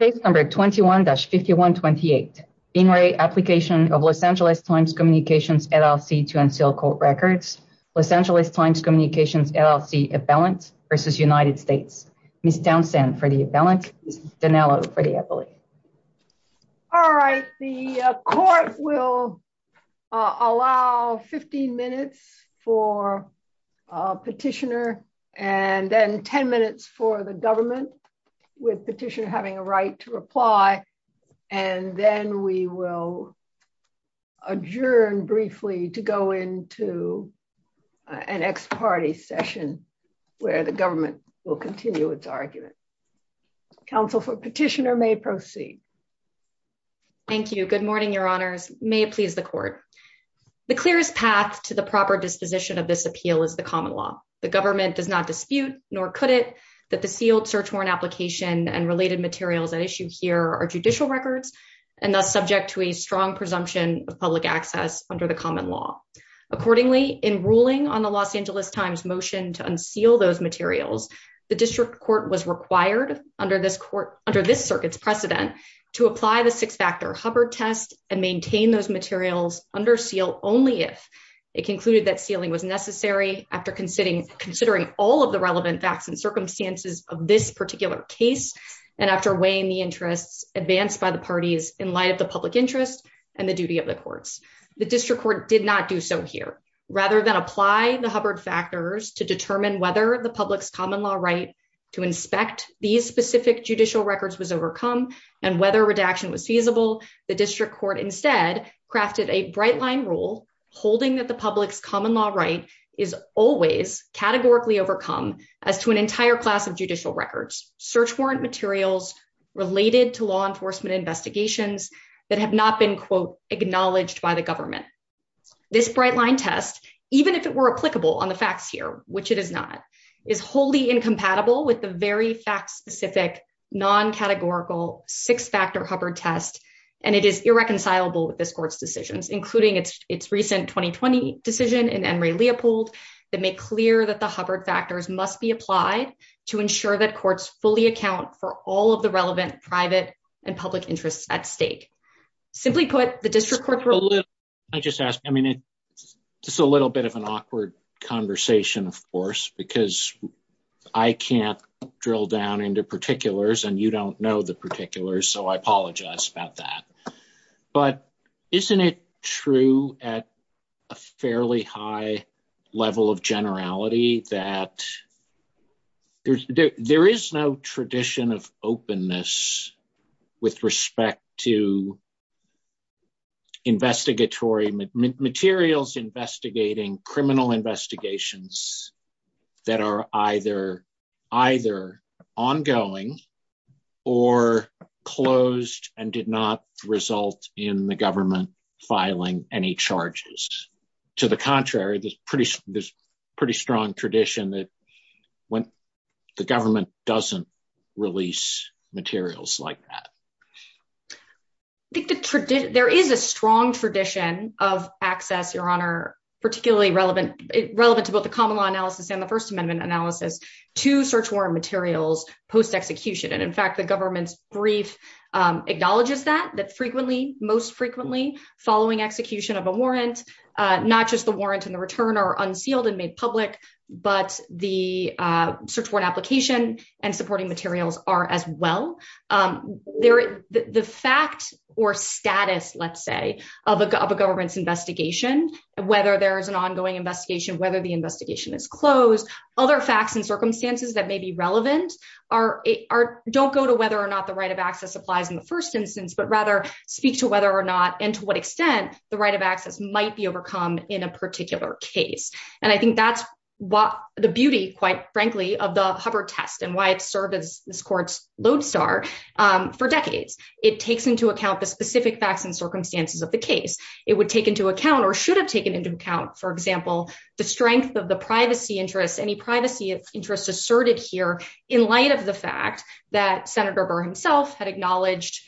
Case number 21-5128. In re-application of Los Angeles Times Communications LLC to unseal court records. Los Angeles Times Communications LLC appellant versus United States. Ms. Townsend for the appellant, Ms. Dinello for the appellate. All right, the court will allow 15 minutes for petitioner and then 10 minutes for the government with petitioner having a right to reply. And then we will adjourn briefly to go into an ex-party session where the government will continue its argument. Counsel for petitioner may proceed. Thank you. Good morning, Your Honors. May it please the court. The clearest path to the proper disposition of this appeal is the common law. The government does not dispute, nor could it, that the sealed search warrant application and related materials at issue here are judicial records, and thus subject to a strong presumption of public access under the common law. Accordingly, in ruling on the Los Angeles Times motion to unseal those materials, the district court was required under this circuit's precedent to apply the six-factor Hubbard test and maintain those materials under seal only if it concluded that sealing was necessary after considering all of the relevant facts and circumstances of this particular case and after weighing the interests advanced by the parties in light of the public interest and the duty of the courts. The district court did not do so here. Rather than apply the Hubbard factors to determine whether the public's common law right to inspect these specific judicial records was overcome and whether redaction was feasible, the district court instead crafted a bright-line rule holding that the public's common law right is always categorically overcome as to an entire class of judicial records, search warrant materials related to law enforcement investigations that have not been, quote, This bright-line test, even if it were applicable on the facts here, which it is not, is wholly incompatible with the very fact-specific, non-categorical six-factor Hubbard test, and it is irreconcilable with this court's decisions, including its recent 2020 decision in Emory-Leopold that make clear that the Hubbard factors must be applied to ensure that courts fully account for all of the relevant private and public interests at stake. Simply put, the district court rule... Can I just ask, I mean, it's a little bit of an awkward conversation, of course, because I can't drill down into particulars and you don't know the particulars, so I apologize about that. But isn't it true at a fairly high level of generality that there is no tradition of openness with respect to investigatory materials investigating criminal investigations that are either ongoing or closed and did not result in the government filing any charges? To the contrary, there's a pretty strong tradition that the government doesn't release materials like that. There is a strong tradition of access, Your Honor, particularly relevant to both the common law analysis and the First Amendment analysis to search warrant materials post-execution. And in fact, the government's brief acknowledges that, that frequently, most frequently, following execution of a warrant, not just the warrant and the return are unsealed and made public, but the search warrant application and supporting materials are as well. The fact or status, let's say, of a government's investigation, whether there is an ongoing investigation, whether the investigation is closed, other facts and circumstances that may be relevant don't go to whether or not the right of access applies in the first instance, but rather speak to whether or not and to what extent the right of access might be overcome in a particular case. And I think that's what the beauty, quite frankly, of the Hubbard test and why it's served as this court's lodestar for decades. It takes into account the specific facts and circumstances of the case. It would take into account or should have taken into account, for example, the strength of the privacy interests, any privacy interests asserted here in light of the fact that Senator Burr himself had acknowledged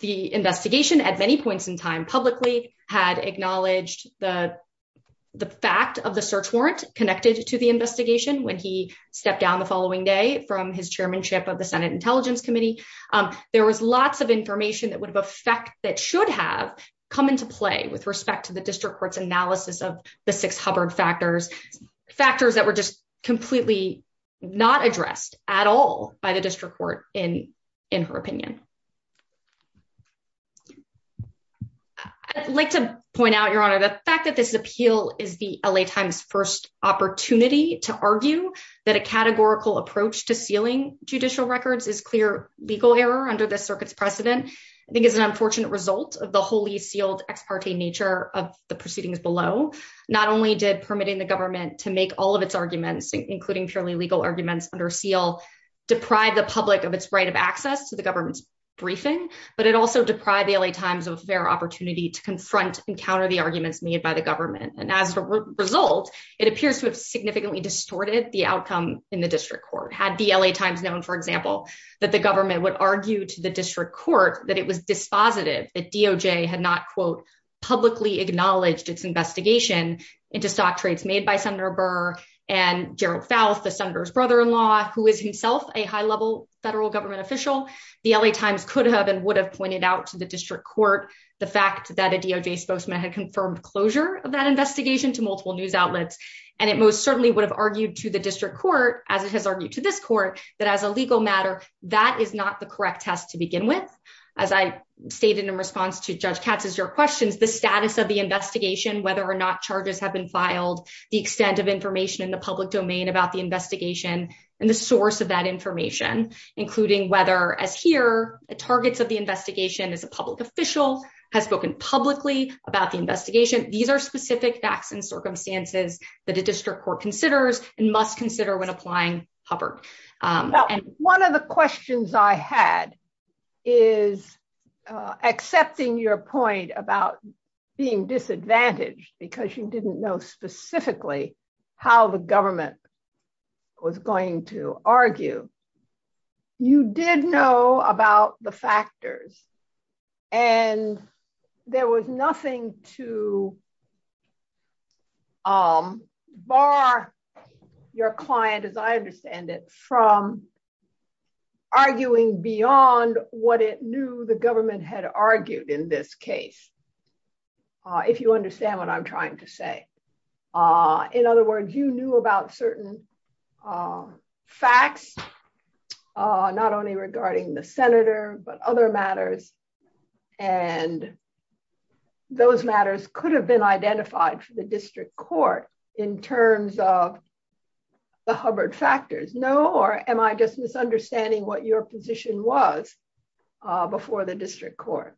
the investigation at many points in time, publicly had acknowledged the fact of the search warrant connected to the investigation. When he stepped down the following day from his chairmanship of the Senate Intelligence Committee, there was lots of information that would have effect that should have come into play with respect to the district court's analysis of the six Hubbard factors, factors that were just completely not addressed at all by the district court in in her opinion. I'd like to point out, Your Honor, the fact that this appeal is the L.A. Times first opportunity to argue that a categorical approach to sealing judicial records is clear legal error under the circuit's precedent. I think it's an unfortunate result of the wholly sealed ex parte nature of the proceedings below. Not only did permitting the government to make all of its arguments, including purely legal arguments under seal, deprive the public of its right of access to the government's briefing, but it also deprived the L.A. Times of a fair opportunity to confront and counter the arguments made by the government. And as a result, it appears to have significantly distorted the outcome in the district court. Had the L.A. Times known, for example, that the government would argue to the district court that it was dispositive, that DOJ had not, quote, publicly acknowledged its investigation into stock trades made by Senator Burr and Gerald Faust, the senator's brother in law, who is himself a high level federal government official. The L.A. Times could have and would have pointed out to the district court the fact that a DOJ spokesman had confirmed closure of that investigation to multiple news outlets. And it most certainly would have argued to the district court, as it has argued to this court, that as a legal matter, that is not the correct test to begin with. As I stated in response to Judge Katz's your questions, the status of the investigation, whether or not charges have been filed, the extent of information in the public domain about the investigation and the source of that information, including whether, as here, the targets of the investigation as a public official has spoken publicly about the investigation. These are specific facts and circumstances that a district court considers and must consider when applying Hubbard. One of the questions I had is accepting your point about being disadvantaged because you didn't know specifically how the government was going to argue. You did know about the factors, and there was nothing to bar your client, as I understand it, from arguing beyond what it knew the government had argued in this case, if you understand what I'm trying to say. In other words, you knew about certain facts, not only regarding the senator, but other matters, and those matters could have been identified for the district court in terms of the Hubbard factors. No? Or am I just misunderstanding what your position was before the district court?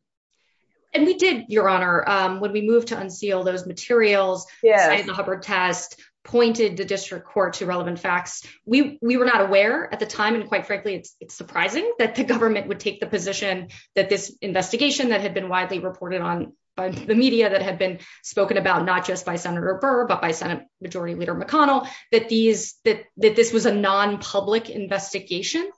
And we did, Your Honor. When we moved to unseal those materials, signed the Hubbard test, pointed the district court to relevant facts. We were not aware at the time, and quite frankly, it's surprising that the government would take the position that this investigation that had been widely reported on by the media, that had been spoken about not just by Senator Burr, but by Senate Majority Leader McConnell, that this was a non-public investigation.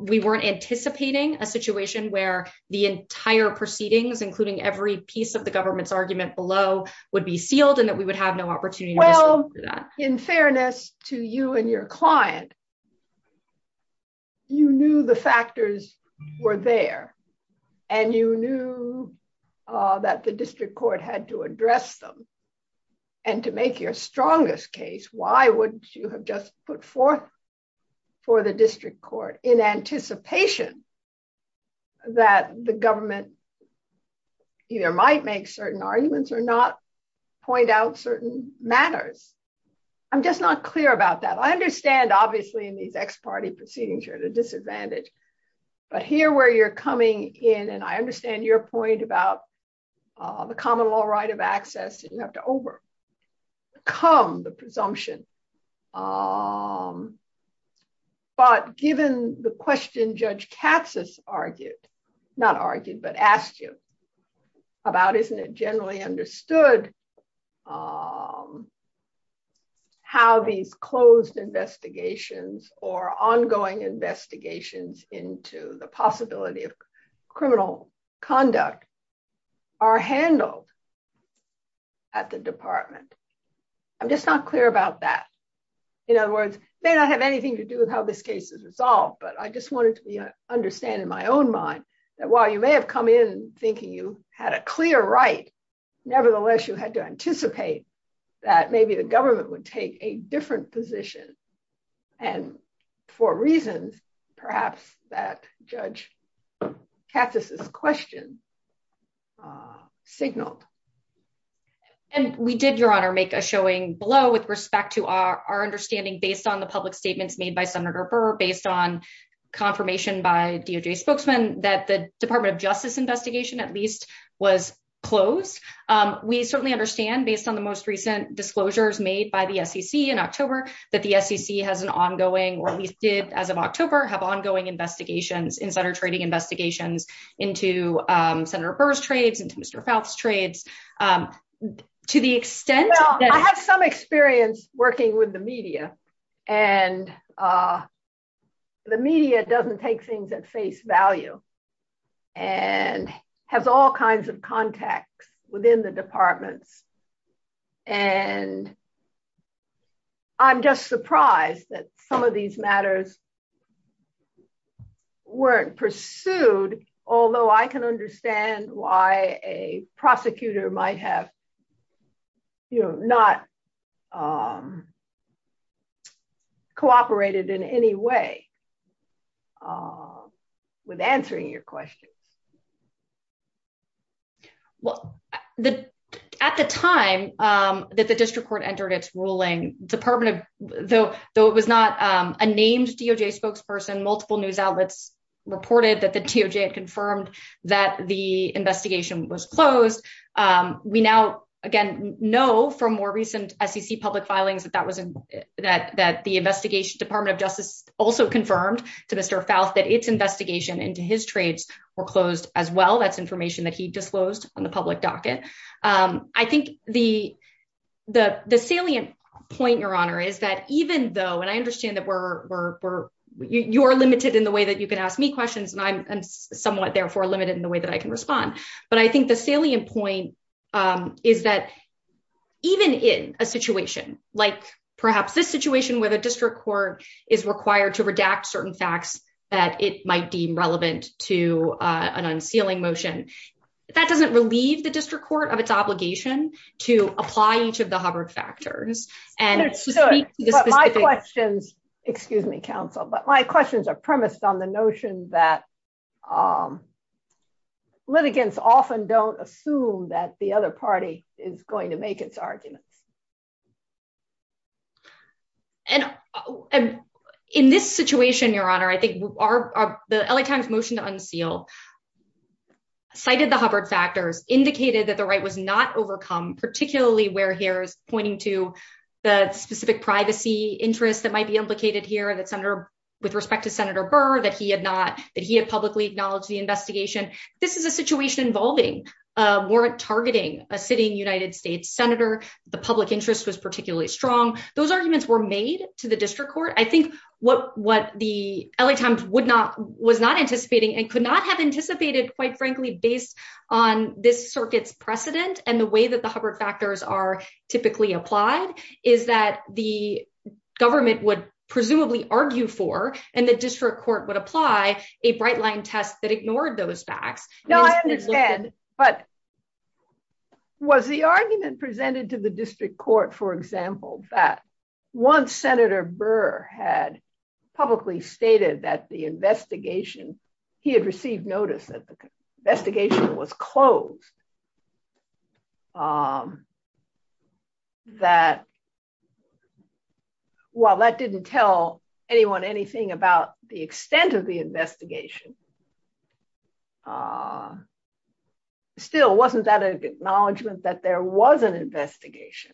We weren't anticipating a situation where the entire proceedings, including every piece of the government's argument below, would be sealed and that we would have no opportunity to disclose that. But in fairness to you and your client, you knew the factors were there, and you knew that the district court had to address them. And to make your strongest case, why wouldn't you have just put forth for the district court in anticipation that the government either might make certain arguments or not point out certain matters? I'm just not clear about that. I understand, obviously, in these ex parte proceedings, you're at a disadvantage. But here where you're coming in, and I understand your point about the common law right of access, you have to overcome the presumption. But given the question Judge Katsas argued, not argued, but asked you about, isn't it generally understood how these closed investigations or ongoing investigations into the possibility of criminal conduct are handled at the department? I'm just not clear about that. In other words, it may not have anything to do with how this case is resolved. But I just wanted to understand in my own mind that while you may have come in thinking you had a clear right, nevertheless, you had to anticipate that maybe the government would take a different position. And for reasons, perhaps, that Judge Katsas' question signaled. And we did, Your Honor, make a showing below with respect to our understanding based on the public statements made by Senator Burr, based on confirmation by DOJ spokesmen that the Department of Justice investigation, at least, was closed. We certainly understand, based on the most recent disclosures made by the SEC in October, that the SEC has an ongoing, or at least did as of October, have ongoing investigations, insider trading investigations, into Senator Burr's trades, into Mr. Faust's trades. To the extent that... Well, I have some experience working with the media, and the media doesn't take things at face value and has all kinds of contacts within the departments. And I'm just surprised that some of these matters weren't pursued, although I can understand why a prosecutor might have not cooperated in any way with answering your questions. Well, at the time that the district court entered its ruling, though it was not a named DOJ spokesperson, multiple news outlets reported that the DOJ had confirmed that the investigation was closed. We now, again, know from more recent SEC public filings that the investigation Department of Justice also confirmed to Mr. Faust that its investigation into his trades were closed as well. That's information that he disclosed on the public docket. I think the salient point, Your Honor, is that even though... And I understand that you're limited in the way that you can ask me questions, and I'm somewhat, therefore, limited in the way that I can respond. But I think the salient point is that even in a situation like perhaps this situation where the district court is required to redact certain facts that it might deem relevant to an unsealing motion, that doesn't relieve the district court of its obligation to apply each of the Hubbard factors. But my questions, excuse me, counsel, but my questions are premised on the notion that litigants often don't assume that the other party is going to make its arguments. And in this situation, Your Honor, I think the LA Times motion to unseal cited the Hubbard factors, indicated that the right was not overcome, particularly where here is pointing to the specific privacy interests that might be implicated here. With respect to Senator Burr, that he had publicly acknowledged the investigation. This is a situation involving warrant targeting a sitting United States senator. The public interest was particularly strong. Those arguments were made to the district court. I think what the LA Times was not anticipating and could not have anticipated, quite frankly, based on this circuit's precedent and the way that the Hubbard factors are typically applied, is that the government would presumably argue for, and the district court would apply, a bright line test that ignored those facts. No, I understand, but was the argument presented to the district court, for example, that once Senator Burr had publicly stated that the investigation, he had received notice that the investigation was closed, that, while that didn't tell anyone anything about the extent of the investigation, still, wasn't that an acknowledgment that there was an investigation?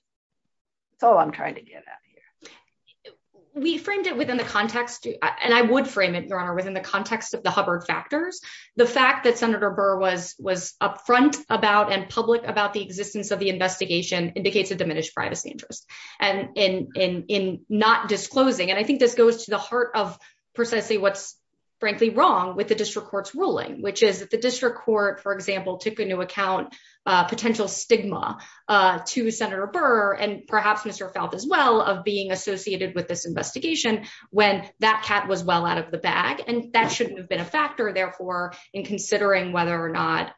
That's all I'm trying to get at here. We framed it within the context, and I would frame it, Your Honor, within the context of the Hubbard factors. The fact that Senator Burr was upfront about and public about the existence of the investigation indicates a diminished privacy interest in not disclosing. I think this goes to the heart of precisely what's, frankly, wrong with the district court's ruling, which is that the district court, for example, took into account potential stigma to Senator Burr, and perhaps Mr. of being associated with this investigation, when that cat was well out of the bag, and that shouldn't have been a factor, therefore, in considering whether or not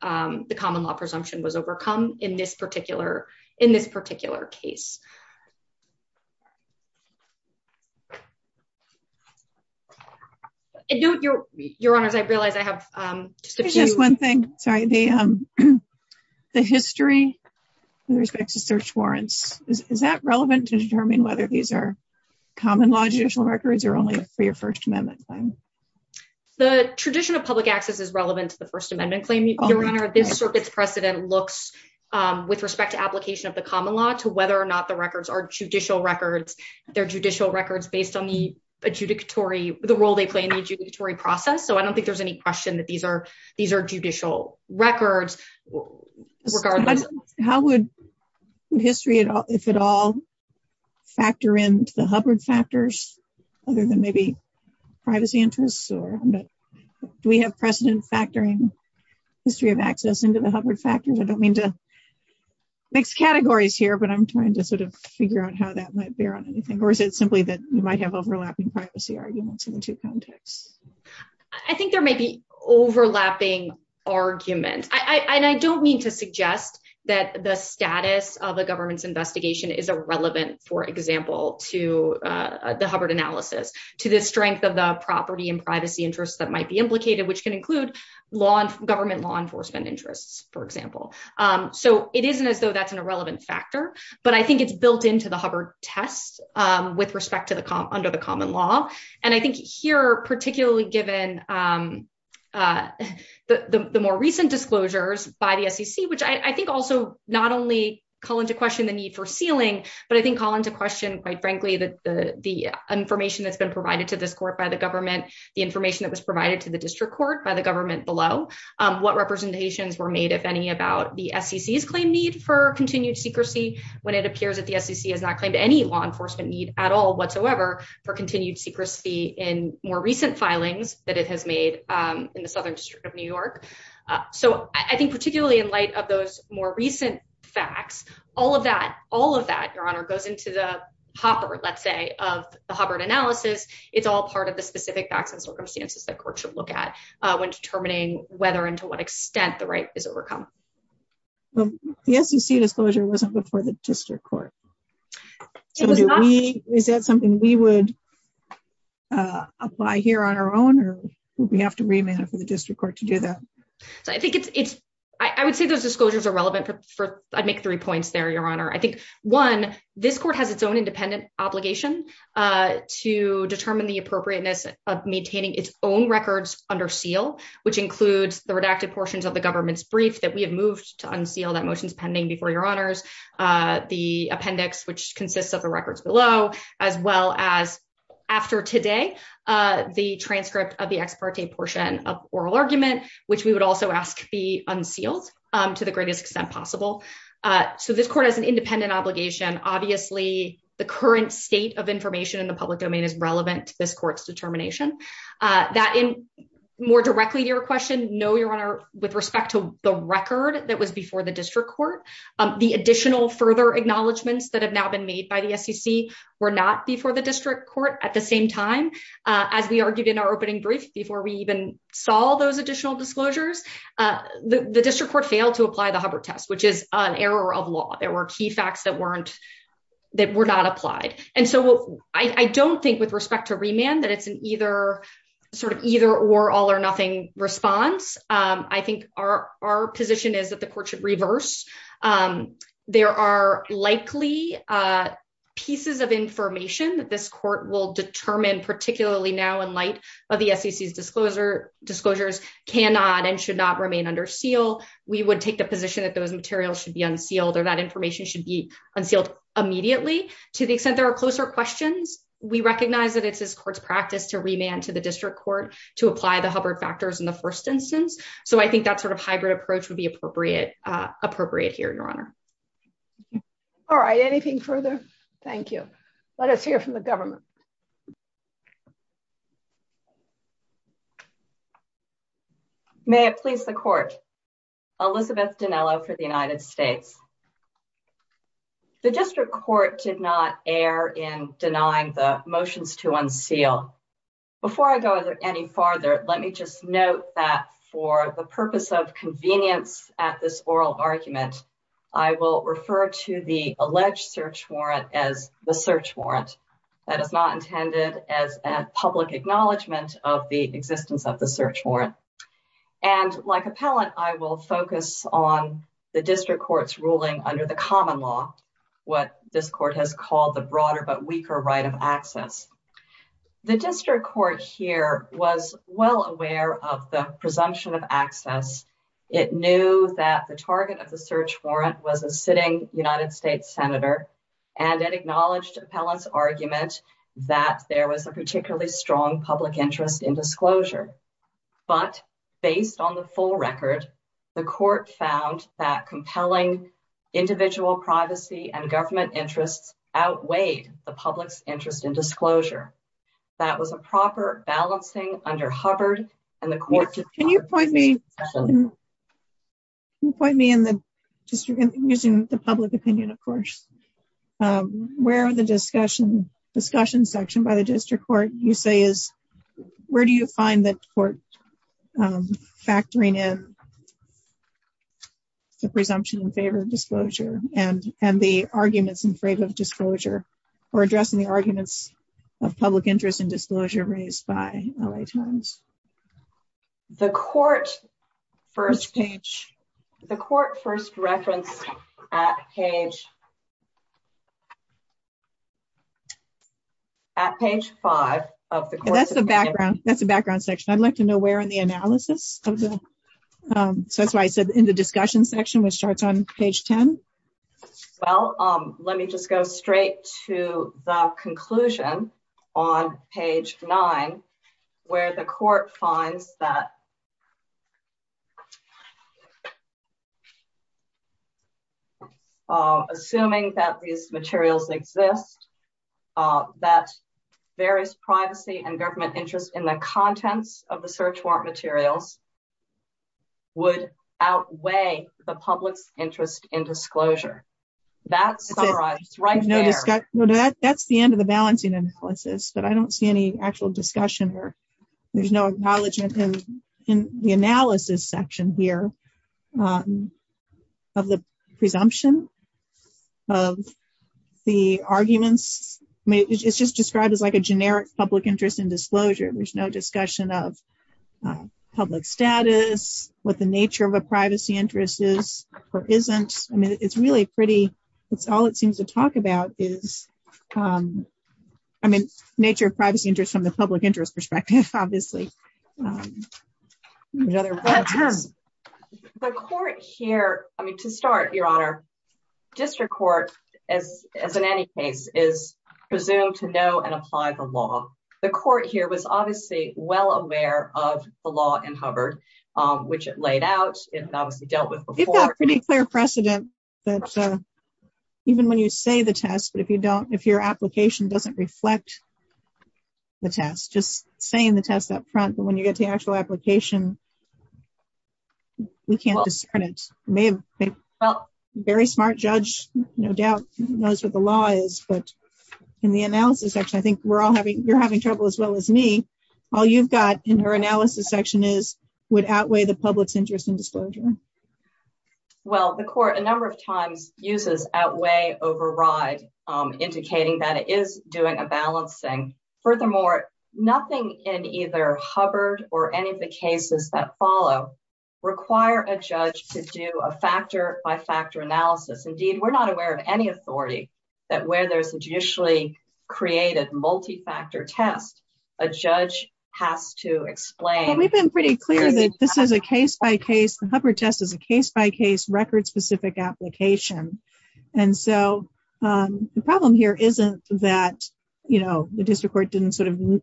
the common law presumption was overcome in this particular case. Your Honor, I realize I have just one thing, sorry, the history with respect to search warrants, is that relevant to determine whether these are common law judicial records or only for your First Amendment claim? The tradition of public access is relevant to the First Amendment claim, Your Honor. This circuit's precedent looks, with respect to application of the common law, to whether or not the records are judicial records. They're judicial records based on the role they play in the adjudicatory process, so I don't think there's any question that these are judicial records. How would history, if at all, factor into the Hubbard factors, other than maybe privacy interests? Do we have precedent factoring history of access into the Hubbard factors? I don't mean to mix categories here, but I'm trying to sort of figure out how that might bear on anything. Or is it simply that you might have overlapping privacy arguments in the two contexts? I think there may be overlapping arguments. And I don't mean to suggest that the status of a government's investigation is irrelevant, for example, to the Hubbard analysis, to the strength of the property and privacy interests that might be implicated, which can include government law enforcement interests, for example. So it isn't as though that's an irrelevant factor. But I think it's built into the Hubbard test with respect to the under the common law. And I think here, particularly given the more recent disclosures by the SEC, which I think also not only call into question the need for sealing, but I think call into question, quite frankly, that the information that's been provided to this court by the government, the information that was provided to the district court by the government below what representations were made, if any, about the SEC's claim need for continued secrecy, when it appears that the SEC has not claimed any law enforcement need at all whatsoever for continued secrecy in more recent filings that it has made in the Southern District of New York. So I think particularly in light of those more recent facts, all of that, all of that, Your Honor, goes into the hopper, let's say, of the Hubbard analysis. It's all part of the specific facts and circumstances that courts should look at when determining whether and to what extent the right is overcome. The SEC disclosure wasn't before the district court. Is that something we would apply here on our own or would we have to remand for the district court to do that? So I think it's it's I would say those disclosures are relevant for I'd make three points there, Your Honor. I think, one, this court has its own independent obligation to determine the appropriateness of maintaining its own records under seal, which includes the redacted portions of the government's brief that we have moved to unseal that motion is pending before your honors. The appendix, which consists of the records below, as well as after today, the transcript of the ex parte portion of oral argument, which we would also ask be unsealed to the greatest extent possible. So this court has an independent obligation. Obviously, the current state of information in the public domain is relevant to this court's determination that in more directly to your question. No, Your Honor. With respect to the record that was before the district court, the additional further acknowledgments that have now been made by the SEC were not before the district court. At the same time, as we argued in our opening brief before we even saw those additional disclosures, the district court failed to apply the Hubbard test, which is an error of law. There were key facts that weren't that were not applied. And so I don't think with respect to remand that it's an either sort of either or all or nothing response. I think our our position is that the court should reverse. There are likely pieces of information that this court will determine, particularly now, in light of the SEC's disclosure disclosures cannot and should not remain under seal. We would take the position that those materials should be unsealed or that information should be unsealed immediately to the extent there are closer questions. We recognize that it's this court's practice to remand to the district court to apply the Hubbard factors in the first instance. So I think that sort of hybrid approach would be appropriate. Appropriate here, Your Honor. All right. Anything further? Thank you. Let us hear from the government. May it please the court. Elizabeth Dinello for the United States. The district court did not err in denying the motions to unseal. Before I go any farther, let me just note that for the purpose of convenience at this oral argument, I will refer to the alleged search warrant as the search warrant. That is not intended as a public acknowledgement of the existence of the search warrant. And like appellant, I will focus on the district court's ruling under the common law. What this court has called the broader but weaker right of access. The district court here was well aware of the presumption of access. It knew that the target of the search warrant was a sitting United States senator. And it acknowledged appellant's argument that there was a particularly strong public interest in disclosure. But based on the full record, the court found that compelling individual privacy and government interests outweighed the public's interest in disclosure. That was a proper balancing under Hubbard and the court. Can you point me? Point me in the district using the public opinion, of course. Where are the discussion discussion section by the district court? You say is where do you find that court factoring in the presumption in favor of disclosure and and the arguments in favor of disclosure or addressing the arguments of public interest in disclosure raised by LA Times? The court first page, the court first reference page. At page five of the court. That's the background. That's the background section. I'd like to know where in the analysis. So that's why I said in the discussion section, which starts on page 10. Well, let me just go straight to the conclusion on page nine, where the court finds that. Assuming that these materials exist, that various privacy and government interest in the contents of the search warrant materials would outweigh the public's interest in disclosure. That's right. That's the end of the balancing analysis, but I don't see any actual discussion or there's no acknowledgement in the analysis section here of the presumption of the arguments. It's just described as like a generic public interest in disclosure. There's no discussion of public status, what the nature of a privacy interest is or isn't. I mean, it's really pretty. It's all it seems to talk about is, I mean, nature of privacy interest from the public interest perspective, obviously. The court here, I mean, to start, Your Honor, district court, as in any case, is presumed to know and apply the law. The court here was obviously well aware of the law in Hubbard, which it laid out, it obviously dealt with before. There's a pretty clear precedent that even when you say the test, but if you don't, if your application doesn't reflect the test, just saying the test up front, but when you get to the actual application, we can't discern it. Very smart judge, no doubt, knows what the law is, but in the analysis section, I think we're all having, you're having trouble as well as me. All you've got in your analysis section is, would outweigh the public's interest in disclosure. Well, the court a number of times uses outweigh, override, indicating that it is doing a balancing. Furthermore, nothing in either Hubbard or any of the cases that follow require a judge to do a factor by factor analysis. Indeed, we're not aware of any authority that where there's a judicially created multi-factor test, a judge has to explain. We've been pretty clear that this is a case-by-case, the Hubbard test is a case-by-case, record-specific application. And so the problem here isn't that, you know, the district court didn't sort of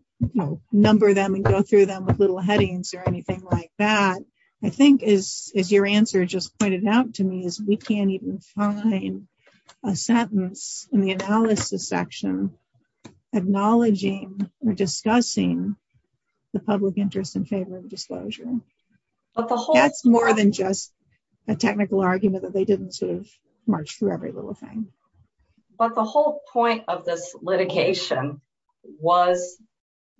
number them and go through them with little headings or anything like that. I think, as your answer just pointed out to me, is we can't even find a sentence in the analysis section acknowledging or discussing the public interest in favor of disclosure. That's more than just a technical argument that they didn't sort of march through every little thing. But the whole point of this litigation was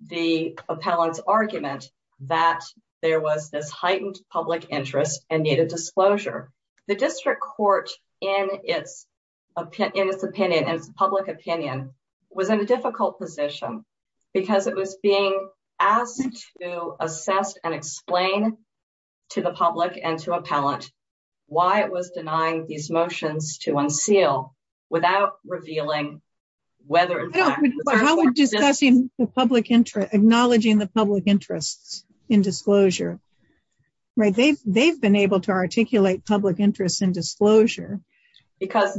the appellant's argument that there was this heightened public interest and needed disclosure. The district court, in its opinion, in its public opinion, was in a difficult position because it was being asked to assess and explain to the public and to appellant why it was denying these motions to unseal without revealing whether in fact... But how would discussing the public interest, acknowledging the public interests in disclosure, right, they've been able to articulate public interests in disclosure without... The district court did a pretty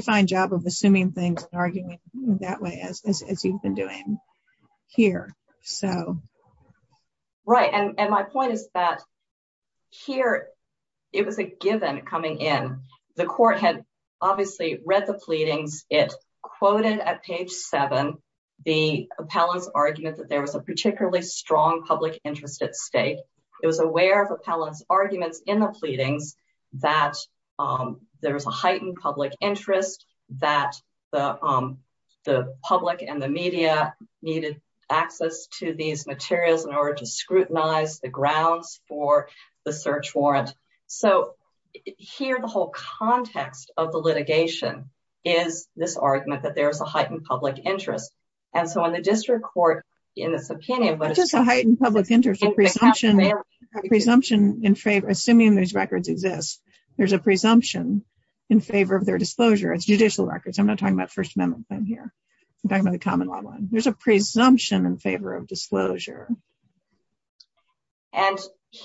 fine job of assuming things and arguing that way, as you've been doing here. Right. And my point is that here, it was a given coming in. The court had obviously read the pleadings. It quoted at page 7 the appellant's argument that there was a particularly strong public interest at stake. It was aware of appellant's arguments in the pleadings that there was a heightened public interest, that the public and the media needed access to these materials in order to scrutinize the grounds for the search warrant. So here, the whole context of the litigation is this argument that there is a heightened public interest. And so in the district court, in this opinion... It's just a heightened public interest, a presumption in favor... Assuming these records exist, there's a presumption in favor of their disclosure. It's judicial records. I'm not talking about First Amendment claim here. I'm talking about the common law one. There's a presumption in favor of disclosure.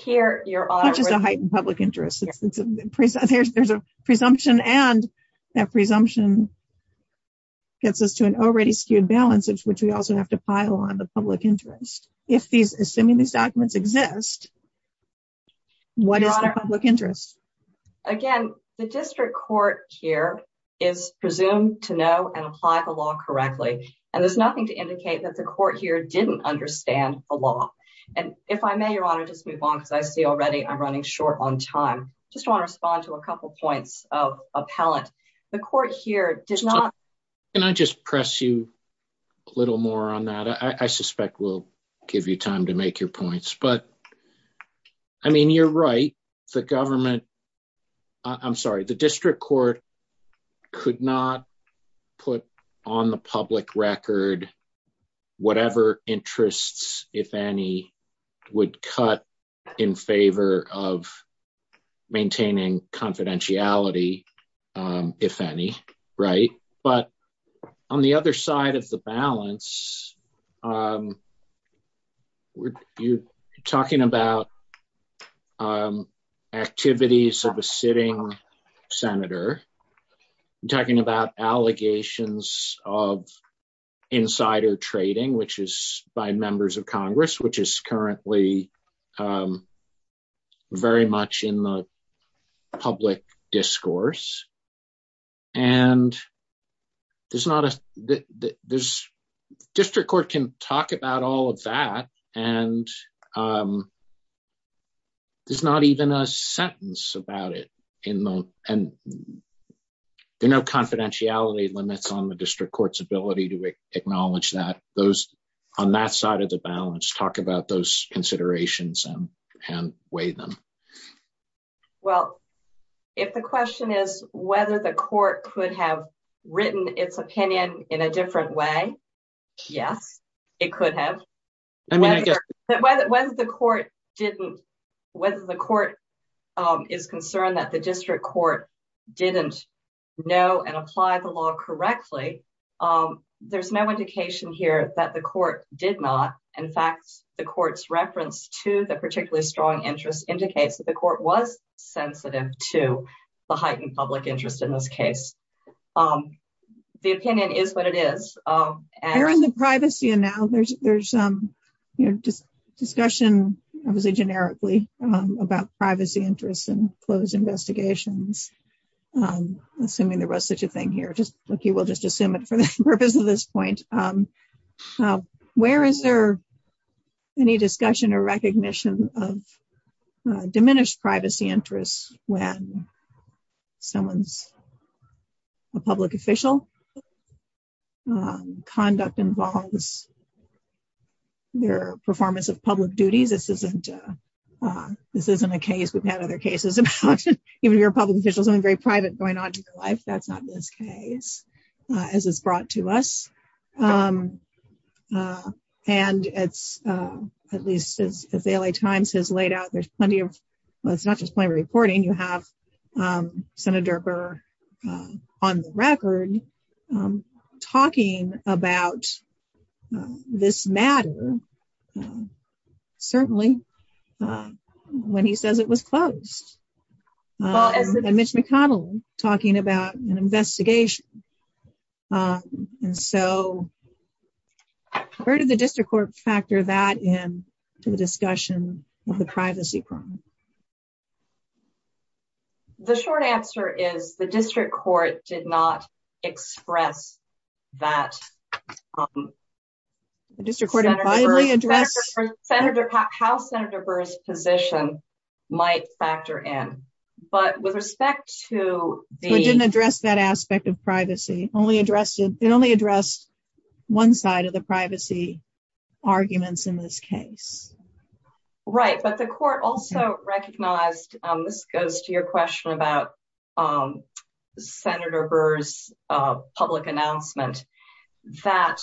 Which is a heightened public interest. There's a presumption and that presumption gets us to an already skewed balance, which we also have to pile on the public interest. Assuming these documents exist, what is the public interest? Again, the district court here is presumed to know and apply the law correctly. And there's nothing to indicate that the court here didn't understand the law. And if I may, Your Honor, just move on because I see already I'm running short on time. Just want to respond to a couple points of appellant. The court here did not... A little more on that. I suspect we'll give you time to make your points. But I mean, you're right. The government... I'm sorry. The district court could not put on the public record whatever interests, if any, would cut in favor of maintaining confidentiality, if any. Right? But on the other side of the balance, you're talking about activities of a sitting senator. You're talking about allegations of insider trading, which is by members of Congress, which is currently very much in the public discourse. And district court can talk about all of that. And there's not even a sentence about it. And there are no confidentiality limits on the district court's ability to acknowledge that. On that side of the balance, talk about those considerations and weigh them. Well, if the question is whether the court could have written its opinion in a different way, yes, it could have. Whether the court is concerned that the district court didn't know and apply the law correctly, there's no indication here that the court did not. In fact, the court's reference to the particularly strong interest indicates that the court was sensitive to the heightened public interest in this case. The opinion is what it is. Erin, the privacy and now there's some discussion, obviously generically, about privacy interests and closed investigations. Assuming there was such a thing here, just like you will just assume it for the purpose of this point. Where is there any discussion or recognition of diminished privacy interests when someone's a public official? Conduct involves their performance of public duties. This isn't a case we've had other cases about. Even if you're a public official, something very private going on in your life. That's not this case, as it's brought to us. At least as the LA Times has laid out, there's plenty of reporting. You have Senator Burr on the record talking about this matter, certainly, when he says it was closed. Mitch McConnell talking about an investigation. Where did the district court factor that in to the discussion of the privacy problem? The short answer is the district court did not express that. How Senator Burr's position might factor in. It didn't address that aspect of privacy. It only addressed one side of the privacy arguments in this case. Right. But the court also recognized, this goes to your question about Senator Burr's public announcement, that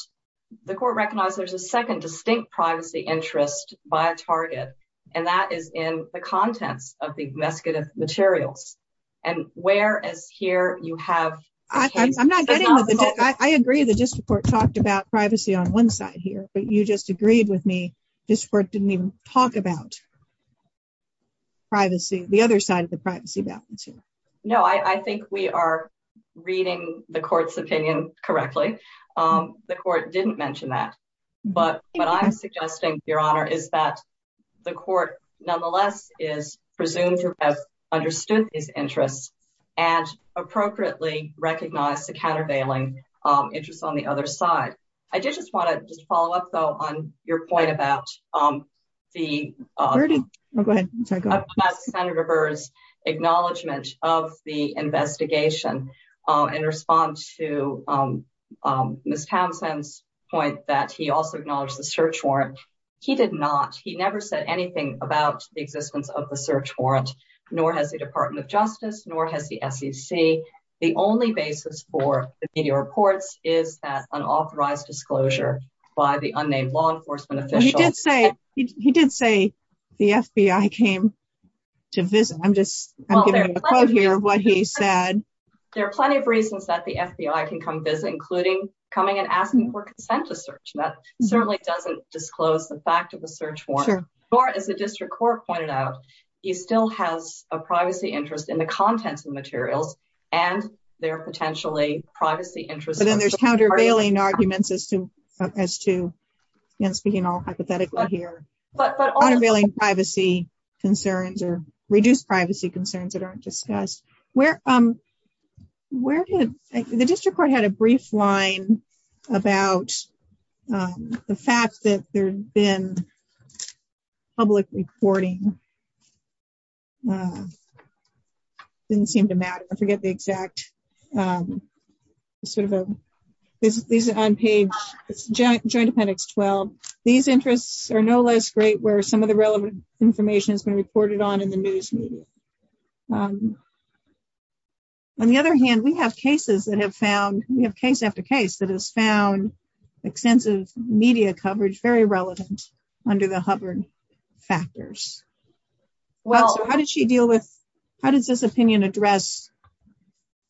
the court recognized there's a second distinct privacy interest by a target. And that is in the contents of the investigative materials. And where is here you have... I agree the district court talked about privacy on one side here, but you just agreed with me, this court didn't even talk about privacy, the other side of the privacy balance. No, I think we are reading the court's opinion correctly. The court didn't mention that. But what I'm suggesting, Your Honor, is that the court, nonetheless, is presumed to have understood these interests and appropriately recognize the countervailing interests on the other side. I just want to just follow up, though, on your point about Senator Burr's acknowledgement of the investigation and respond to Ms. Townsend's point that he also acknowledged the search warrant. He did not. He never said anything about the existence of the search warrant, nor has the Department of Justice, nor has the SEC. The only basis for the media reports is that unauthorized disclosure by the unnamed law enforcement official. He did say the FBI came to visit. I'm just giving a quote here of what he said. There are plenty of reasons that the FBI can come visit, including coming and asking for consent to search. That certainly doesn't disclose the fact of the search warrant. Or, as the district court pointed out, he still has a privacy interest in the contents of the materials and their potentially privacy interests. But then there's countervailing arguments as to, speaking all hypothetically here, countervailing privacy concerns or reduced privacy concerns that aren't discussed. The district court had a brief line about the fact that there had been public reporting. It didn't seem to matter. I forget the exact. These are on page Joint Appendix 12. These interests are no less great where some of the relevant information has been reported on in the news media. On the other hand, we have case after case that has found extensive media coverage very relevant under the Hubbard factors. How does this opinion address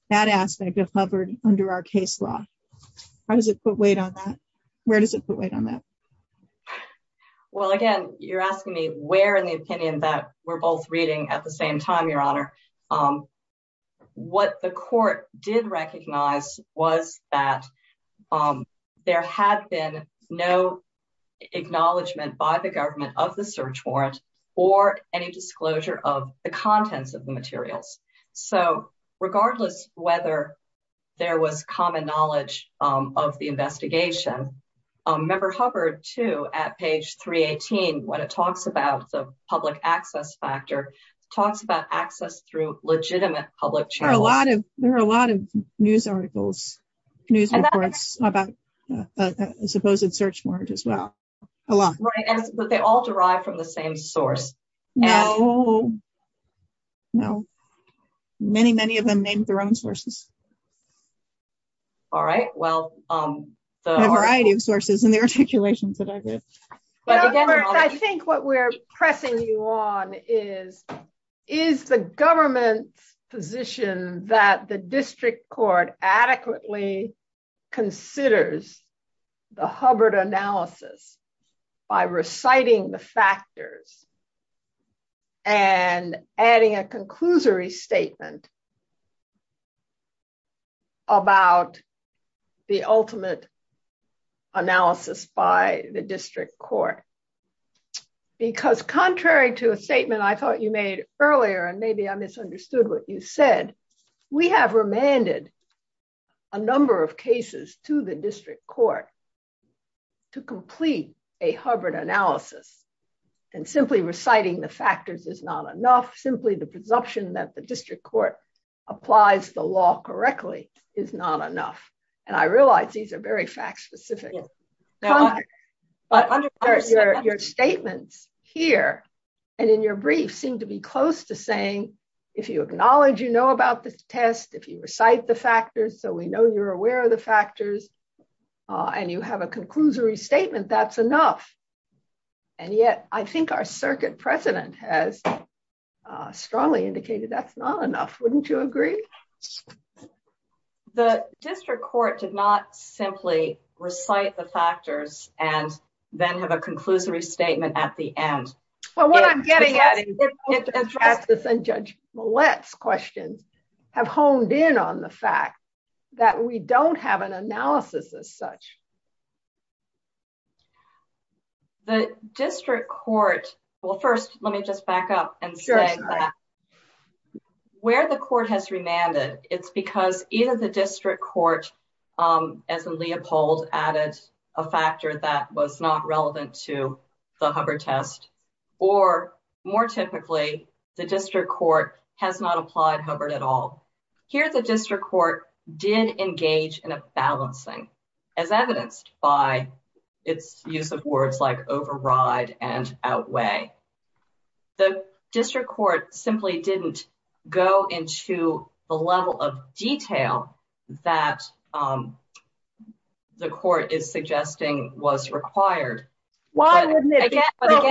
that aspect of Hubbard under our case law? Where does it put weight on that? Well, again, you're asking me where in the opinion that we're both reading at the same time, Your Honor. What the court did recognize was that there had been no acknowledgement by the government of the search warrant or any disclosure of the contents of the materials. Regardless whether there was common knowledge of the investigation, Member Hubbard, too, at page 318, when it talks about the public access factor, talks about access through legitimate public channels. There are a lot of news articles, news reports about a supposed search warrant as well. Right, but they all derive from the same source. No. No. Many, many of them named their own sources. All right, well. A variety of sources in the articulations that I read. I think what we're pressing you on is, is the government's position that the district court adequately considers the Hubbard analysis by reciting the factors and adding a conclusory statement about the ultimate analysis by the district court. Because contrary to a statement I thought you made earlier, and maybe I misunderstood what you said, we have remanded a number of cases to the district court to complete a Hubbard analysis. And simply reciting the factors is not enough, simply the presumption that the district court applies the law correctly is not enough. And I realize these are very fact specific. But your statements here and in your brief seem to be close to saying, if you acknowledge you know about this test, if you recite the factors so we know you're aware of the factors, and you have a conclusory statement, that's enough. And yet, I think our circuit president has strongly indicated that's not enough, wouldn't you agree. The district court did not simply recite the factors, and then have a conclusory statement at the end. Well what I'm getting at is that Judge Millett's questions have honed in on the fact that we don't have an analysis as such. The district court, well first let me just back up and say that where the court has remanded, it's because either the district court, as in Leopold added a factor that was not relevant to the Hubbard test, or more typically, the district court has not applied Hubbard at all. Here the district court did engage in a balancing, as evidenced by its use of words like override and outweigh. The district court simply didn't go into the level of detail that the court is suggesting was required. Why wouldn't it be preferable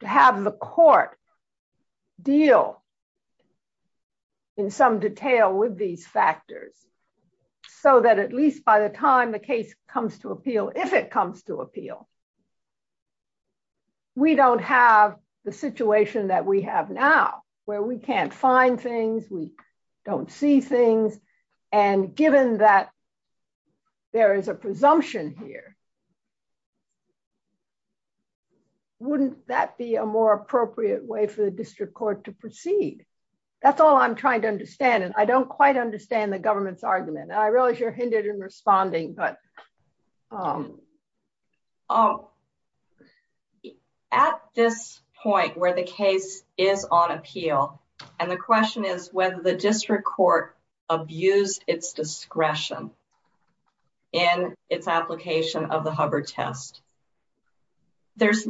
to have the court deal in some detail with these factors, so that at least by the time the case comes to appeal, if it comes to appeal, we don't have the situation that we have now, where we can't find things, we don't see things, and given that there is a presumption here, wouldn't that be a more appropriate way for the district court to proceed? That's all I'm trying to understand, and I don't quite understand the government's argument, and I realize you're hindered in responding but at this point where the case is on appeal, and the question is whether the district court abused its discretion in its application of the Hubbard test, the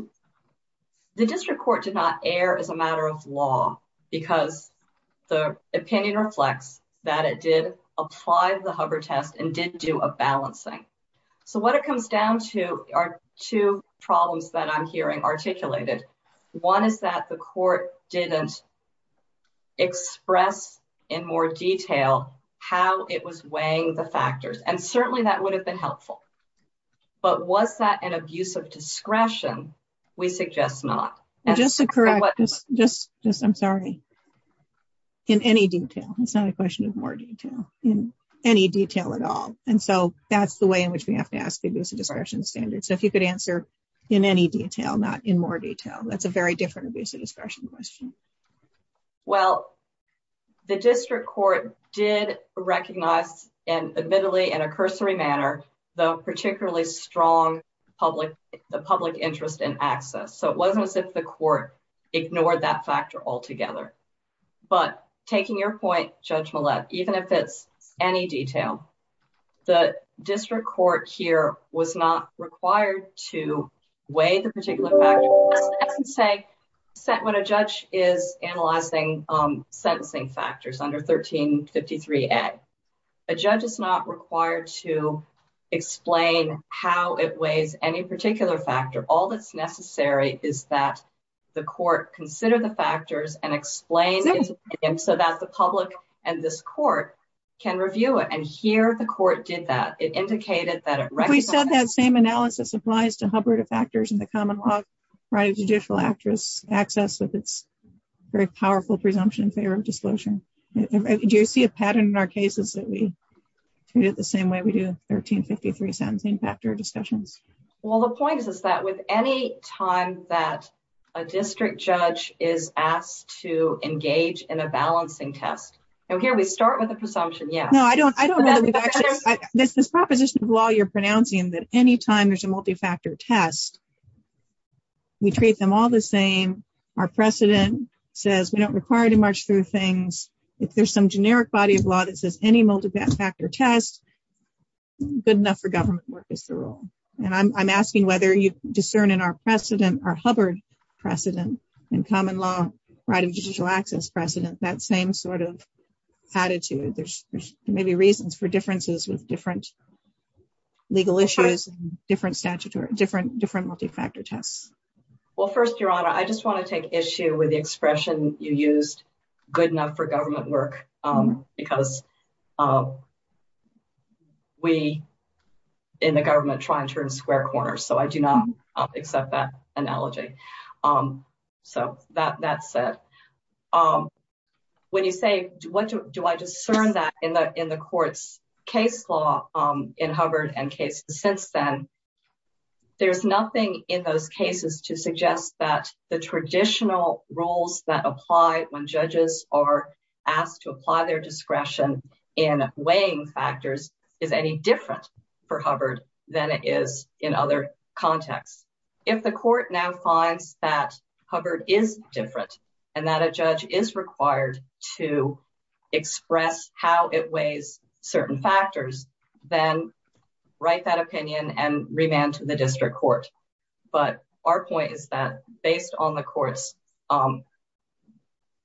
district court did not err as a matter of law, because the opinion reflects that it did apply the Hubbard test and did do a balancing. So what it comes down to are two problems that I'm hearing articulated. One is that the court didn't express in more detail how it was weighing the factors, and certainly that would have been helpful. But was that an abuse of discretion? We suggest not. Just to correct, I'm sorry, in any detail, it's not a question of more detail, in any detail at all. And so that's the way in which we have to ask the abuse of discretion standard. So if you could answer in any detail, not in more detail, that's a very different abuse of discretion question. Well, the district court did recognize, and admittedly in a cursory manner, the particularly strong public interest in access. So it wasn't as if the court ignored that factor altogether. But taking your point, Judge Millett, even if it's any detail, the district court here was not required to weigh the particular factors. When a judge is analyzing sentencing factors under 1353A, a judge is not required to explain how it weighs any particular factor. All that's necessary is that the court consider the factors and explain it so that the public and this court can review it. And here the court did that. We said that same analysis applies to hubertifactors in the common law, right? A judicial actress access with its very powerful presumption in favor of disclosure. Do you see a pattern in our cases that we treat it the same way we do 1353 sentencing factor discussions? Well, the point is that with any time that a district judge is asked to engage in a balancing test, and here we start with a presumption, yes. This proposition of law you're pronouncing that any time there's a multi-factor test, we treat them all the same. Our precedent says we don't require to march through things. If there's some generic body of law that says any multi-factor test, good enough for government work is the rule. And I'm asking whether you discern in our precedent, our hubert precedent in common law right of judicial access precedent, that same sort of attitude. There may be reasons for differences with different legal issues, different statutory, different multi-factor tests. Well, first, Your Honor, I just want to take issue with the expression you used, good enough for government work, because we in the government try and turn square corners. So I do not accept that analogy. So that said, when you say, do I discern that in the court's case law in Hubbard and cases since then, there's nothing in those cases to suggest that the traditional rules that apply when judges are asked to apply their discretion in weighing factors is any different for Hubbard than it is in other contexts. If the court now finds that Hubbard is different and that a judge is required to express how it weighs certain factors, then write that opinion and remand to the district court. But our point is that based on the court's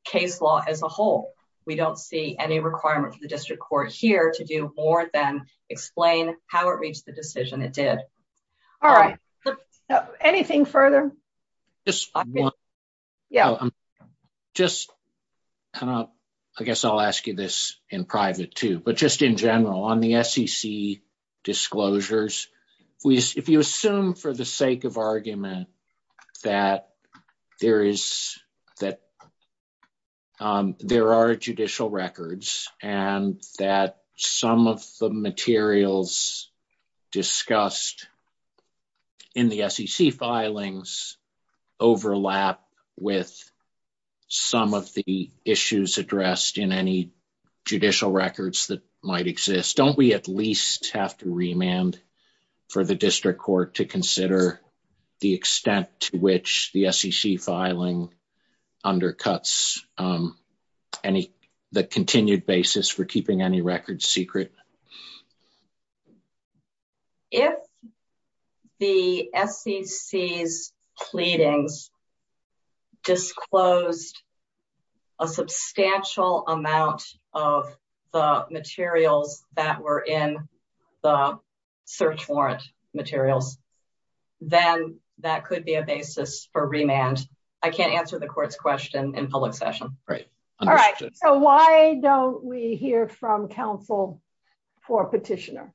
case law as a whole, we don't see any requirement for the district court here to do more than explain how it reached the decision it did. All right. Anything further? Yeah. Just kind of, I guess I'll ask you this in private too, but just in general on the SEC disclosures. If you assume for the sake of argument that there are judicial records and that some of the materials discussed in the SEC filings overlap with some of the issues addressed in any judicial records that might exist, don't we at least have to remand? For the district court to consider the extent to which the SEC filing undercuts the continued basis for keeping any records secret? If the SEC's pleadings disclosed a substantial amount of the materials that were in the search warrant materials, then that could be a basis for remand. I can't answer the court's question in public session. Right. All right. So why don't we hear from counsel for petitioner?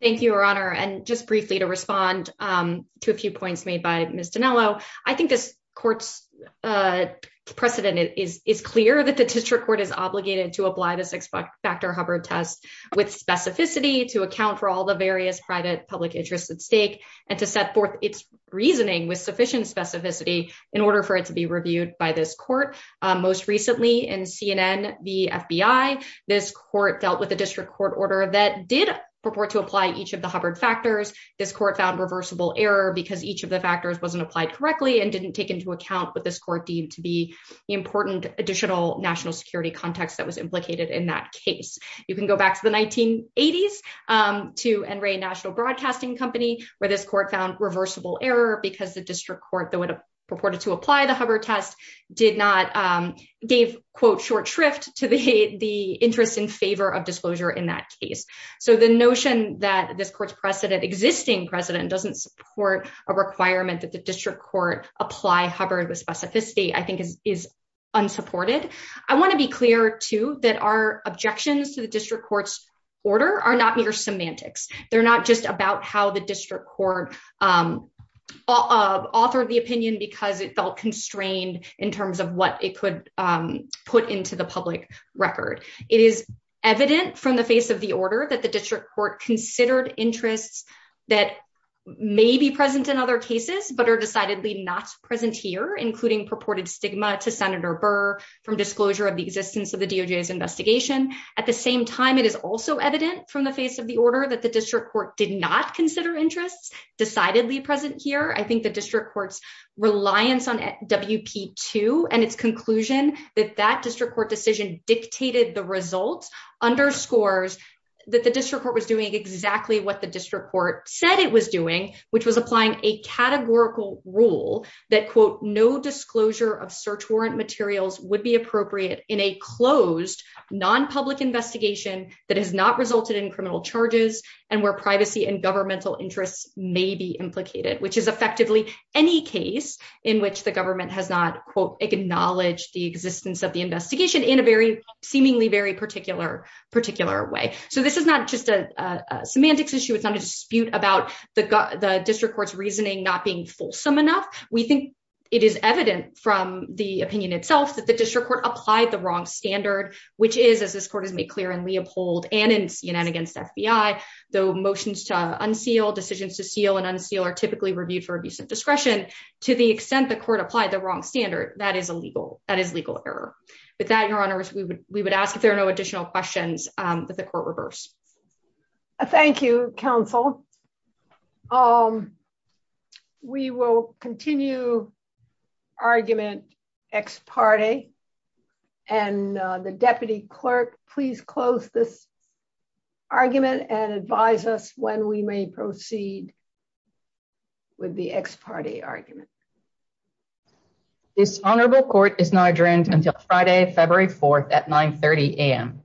Thank you, Your Honor. And just briefly to respond to a few points made by Ms. Dinello. I think this court's precedent is clear that the district court is obligated to apply the six-factor Hubbard test with specificity to account for all the various private public interests at stake and to set forth its reasoning with sufficient specificity in order for it to be reviewed by this court. Most recently in CNN v. FBI, this court dealt with a district court order that did purport to apply each of the Hubbard factors. This court found reversible error because each of the factors wasn't applied correctly and didn't take into account what this court deemed to be important additional national security context that was implicated in that case. You can go back to the 1980s to NRA National Broadcasting Company, where this court found reversible error because the district court that would have purported to apply the Hubbard test did not gave, quote, short shrift to the interest in favor of disclosure in that case. So the notion that this court's precedent, existing precedent, doesn't support a requirement that the district court apply Hubbard with specificity I think is unsupported. I want to be clear, too, that our objections to the district court's order are not mere semantics. They're not just about how the district court authored the opinion because it felt constrained in terms of what it could put into the public record. It is evident from the face of the order that the district court considered interests that may be present in other cases but are decidedly not present here, including purported stigma to Senator Burr from disclosure of the existence of the DOJ's investigation. At the same time, it is also evident from the face of the order that the district court did not consider interests decidedly present here. I think the district court's reliance on WP2 and its conclusion that that district court decision dictated the results underscores that the district court was doing exactly what the district court said it was doing, which was applying a categorical rule that, quote, no disclosure of search warrant materials would be appropriate in a closed nonpublic investigation that has not resulted in criminal charges and where privacy and governmental interests may be implicated, which is effectively any case in which the government has not, quote, acknowledged the existence of the investigation in a very seemingly very particular way. So this is not just a semantics issue. It's not a dispute about the district court's reasoning not being fulsome enough. We think it is evident from the opinion itself that the district court applied the wrong standard, which is, as this court has made clear in Leopold and in CNN against FBI, though motions to unseal, decisions to seal and unseal are typically reviewed for abuse of discretion. To the extent the court applied the wrong standard, that is a legal, that is legal error. With that, Your Honor, we would, we would ask if there are no additional questions that the court reversed. Thank you, counsel. Thank you, counsel. Um, we will continue argument ex parte, and the deputy clerk, please close this argument and advise us when we may proceed with the ex parte argument. This honorable court is now adjourned until Friday, February 4th at 930am.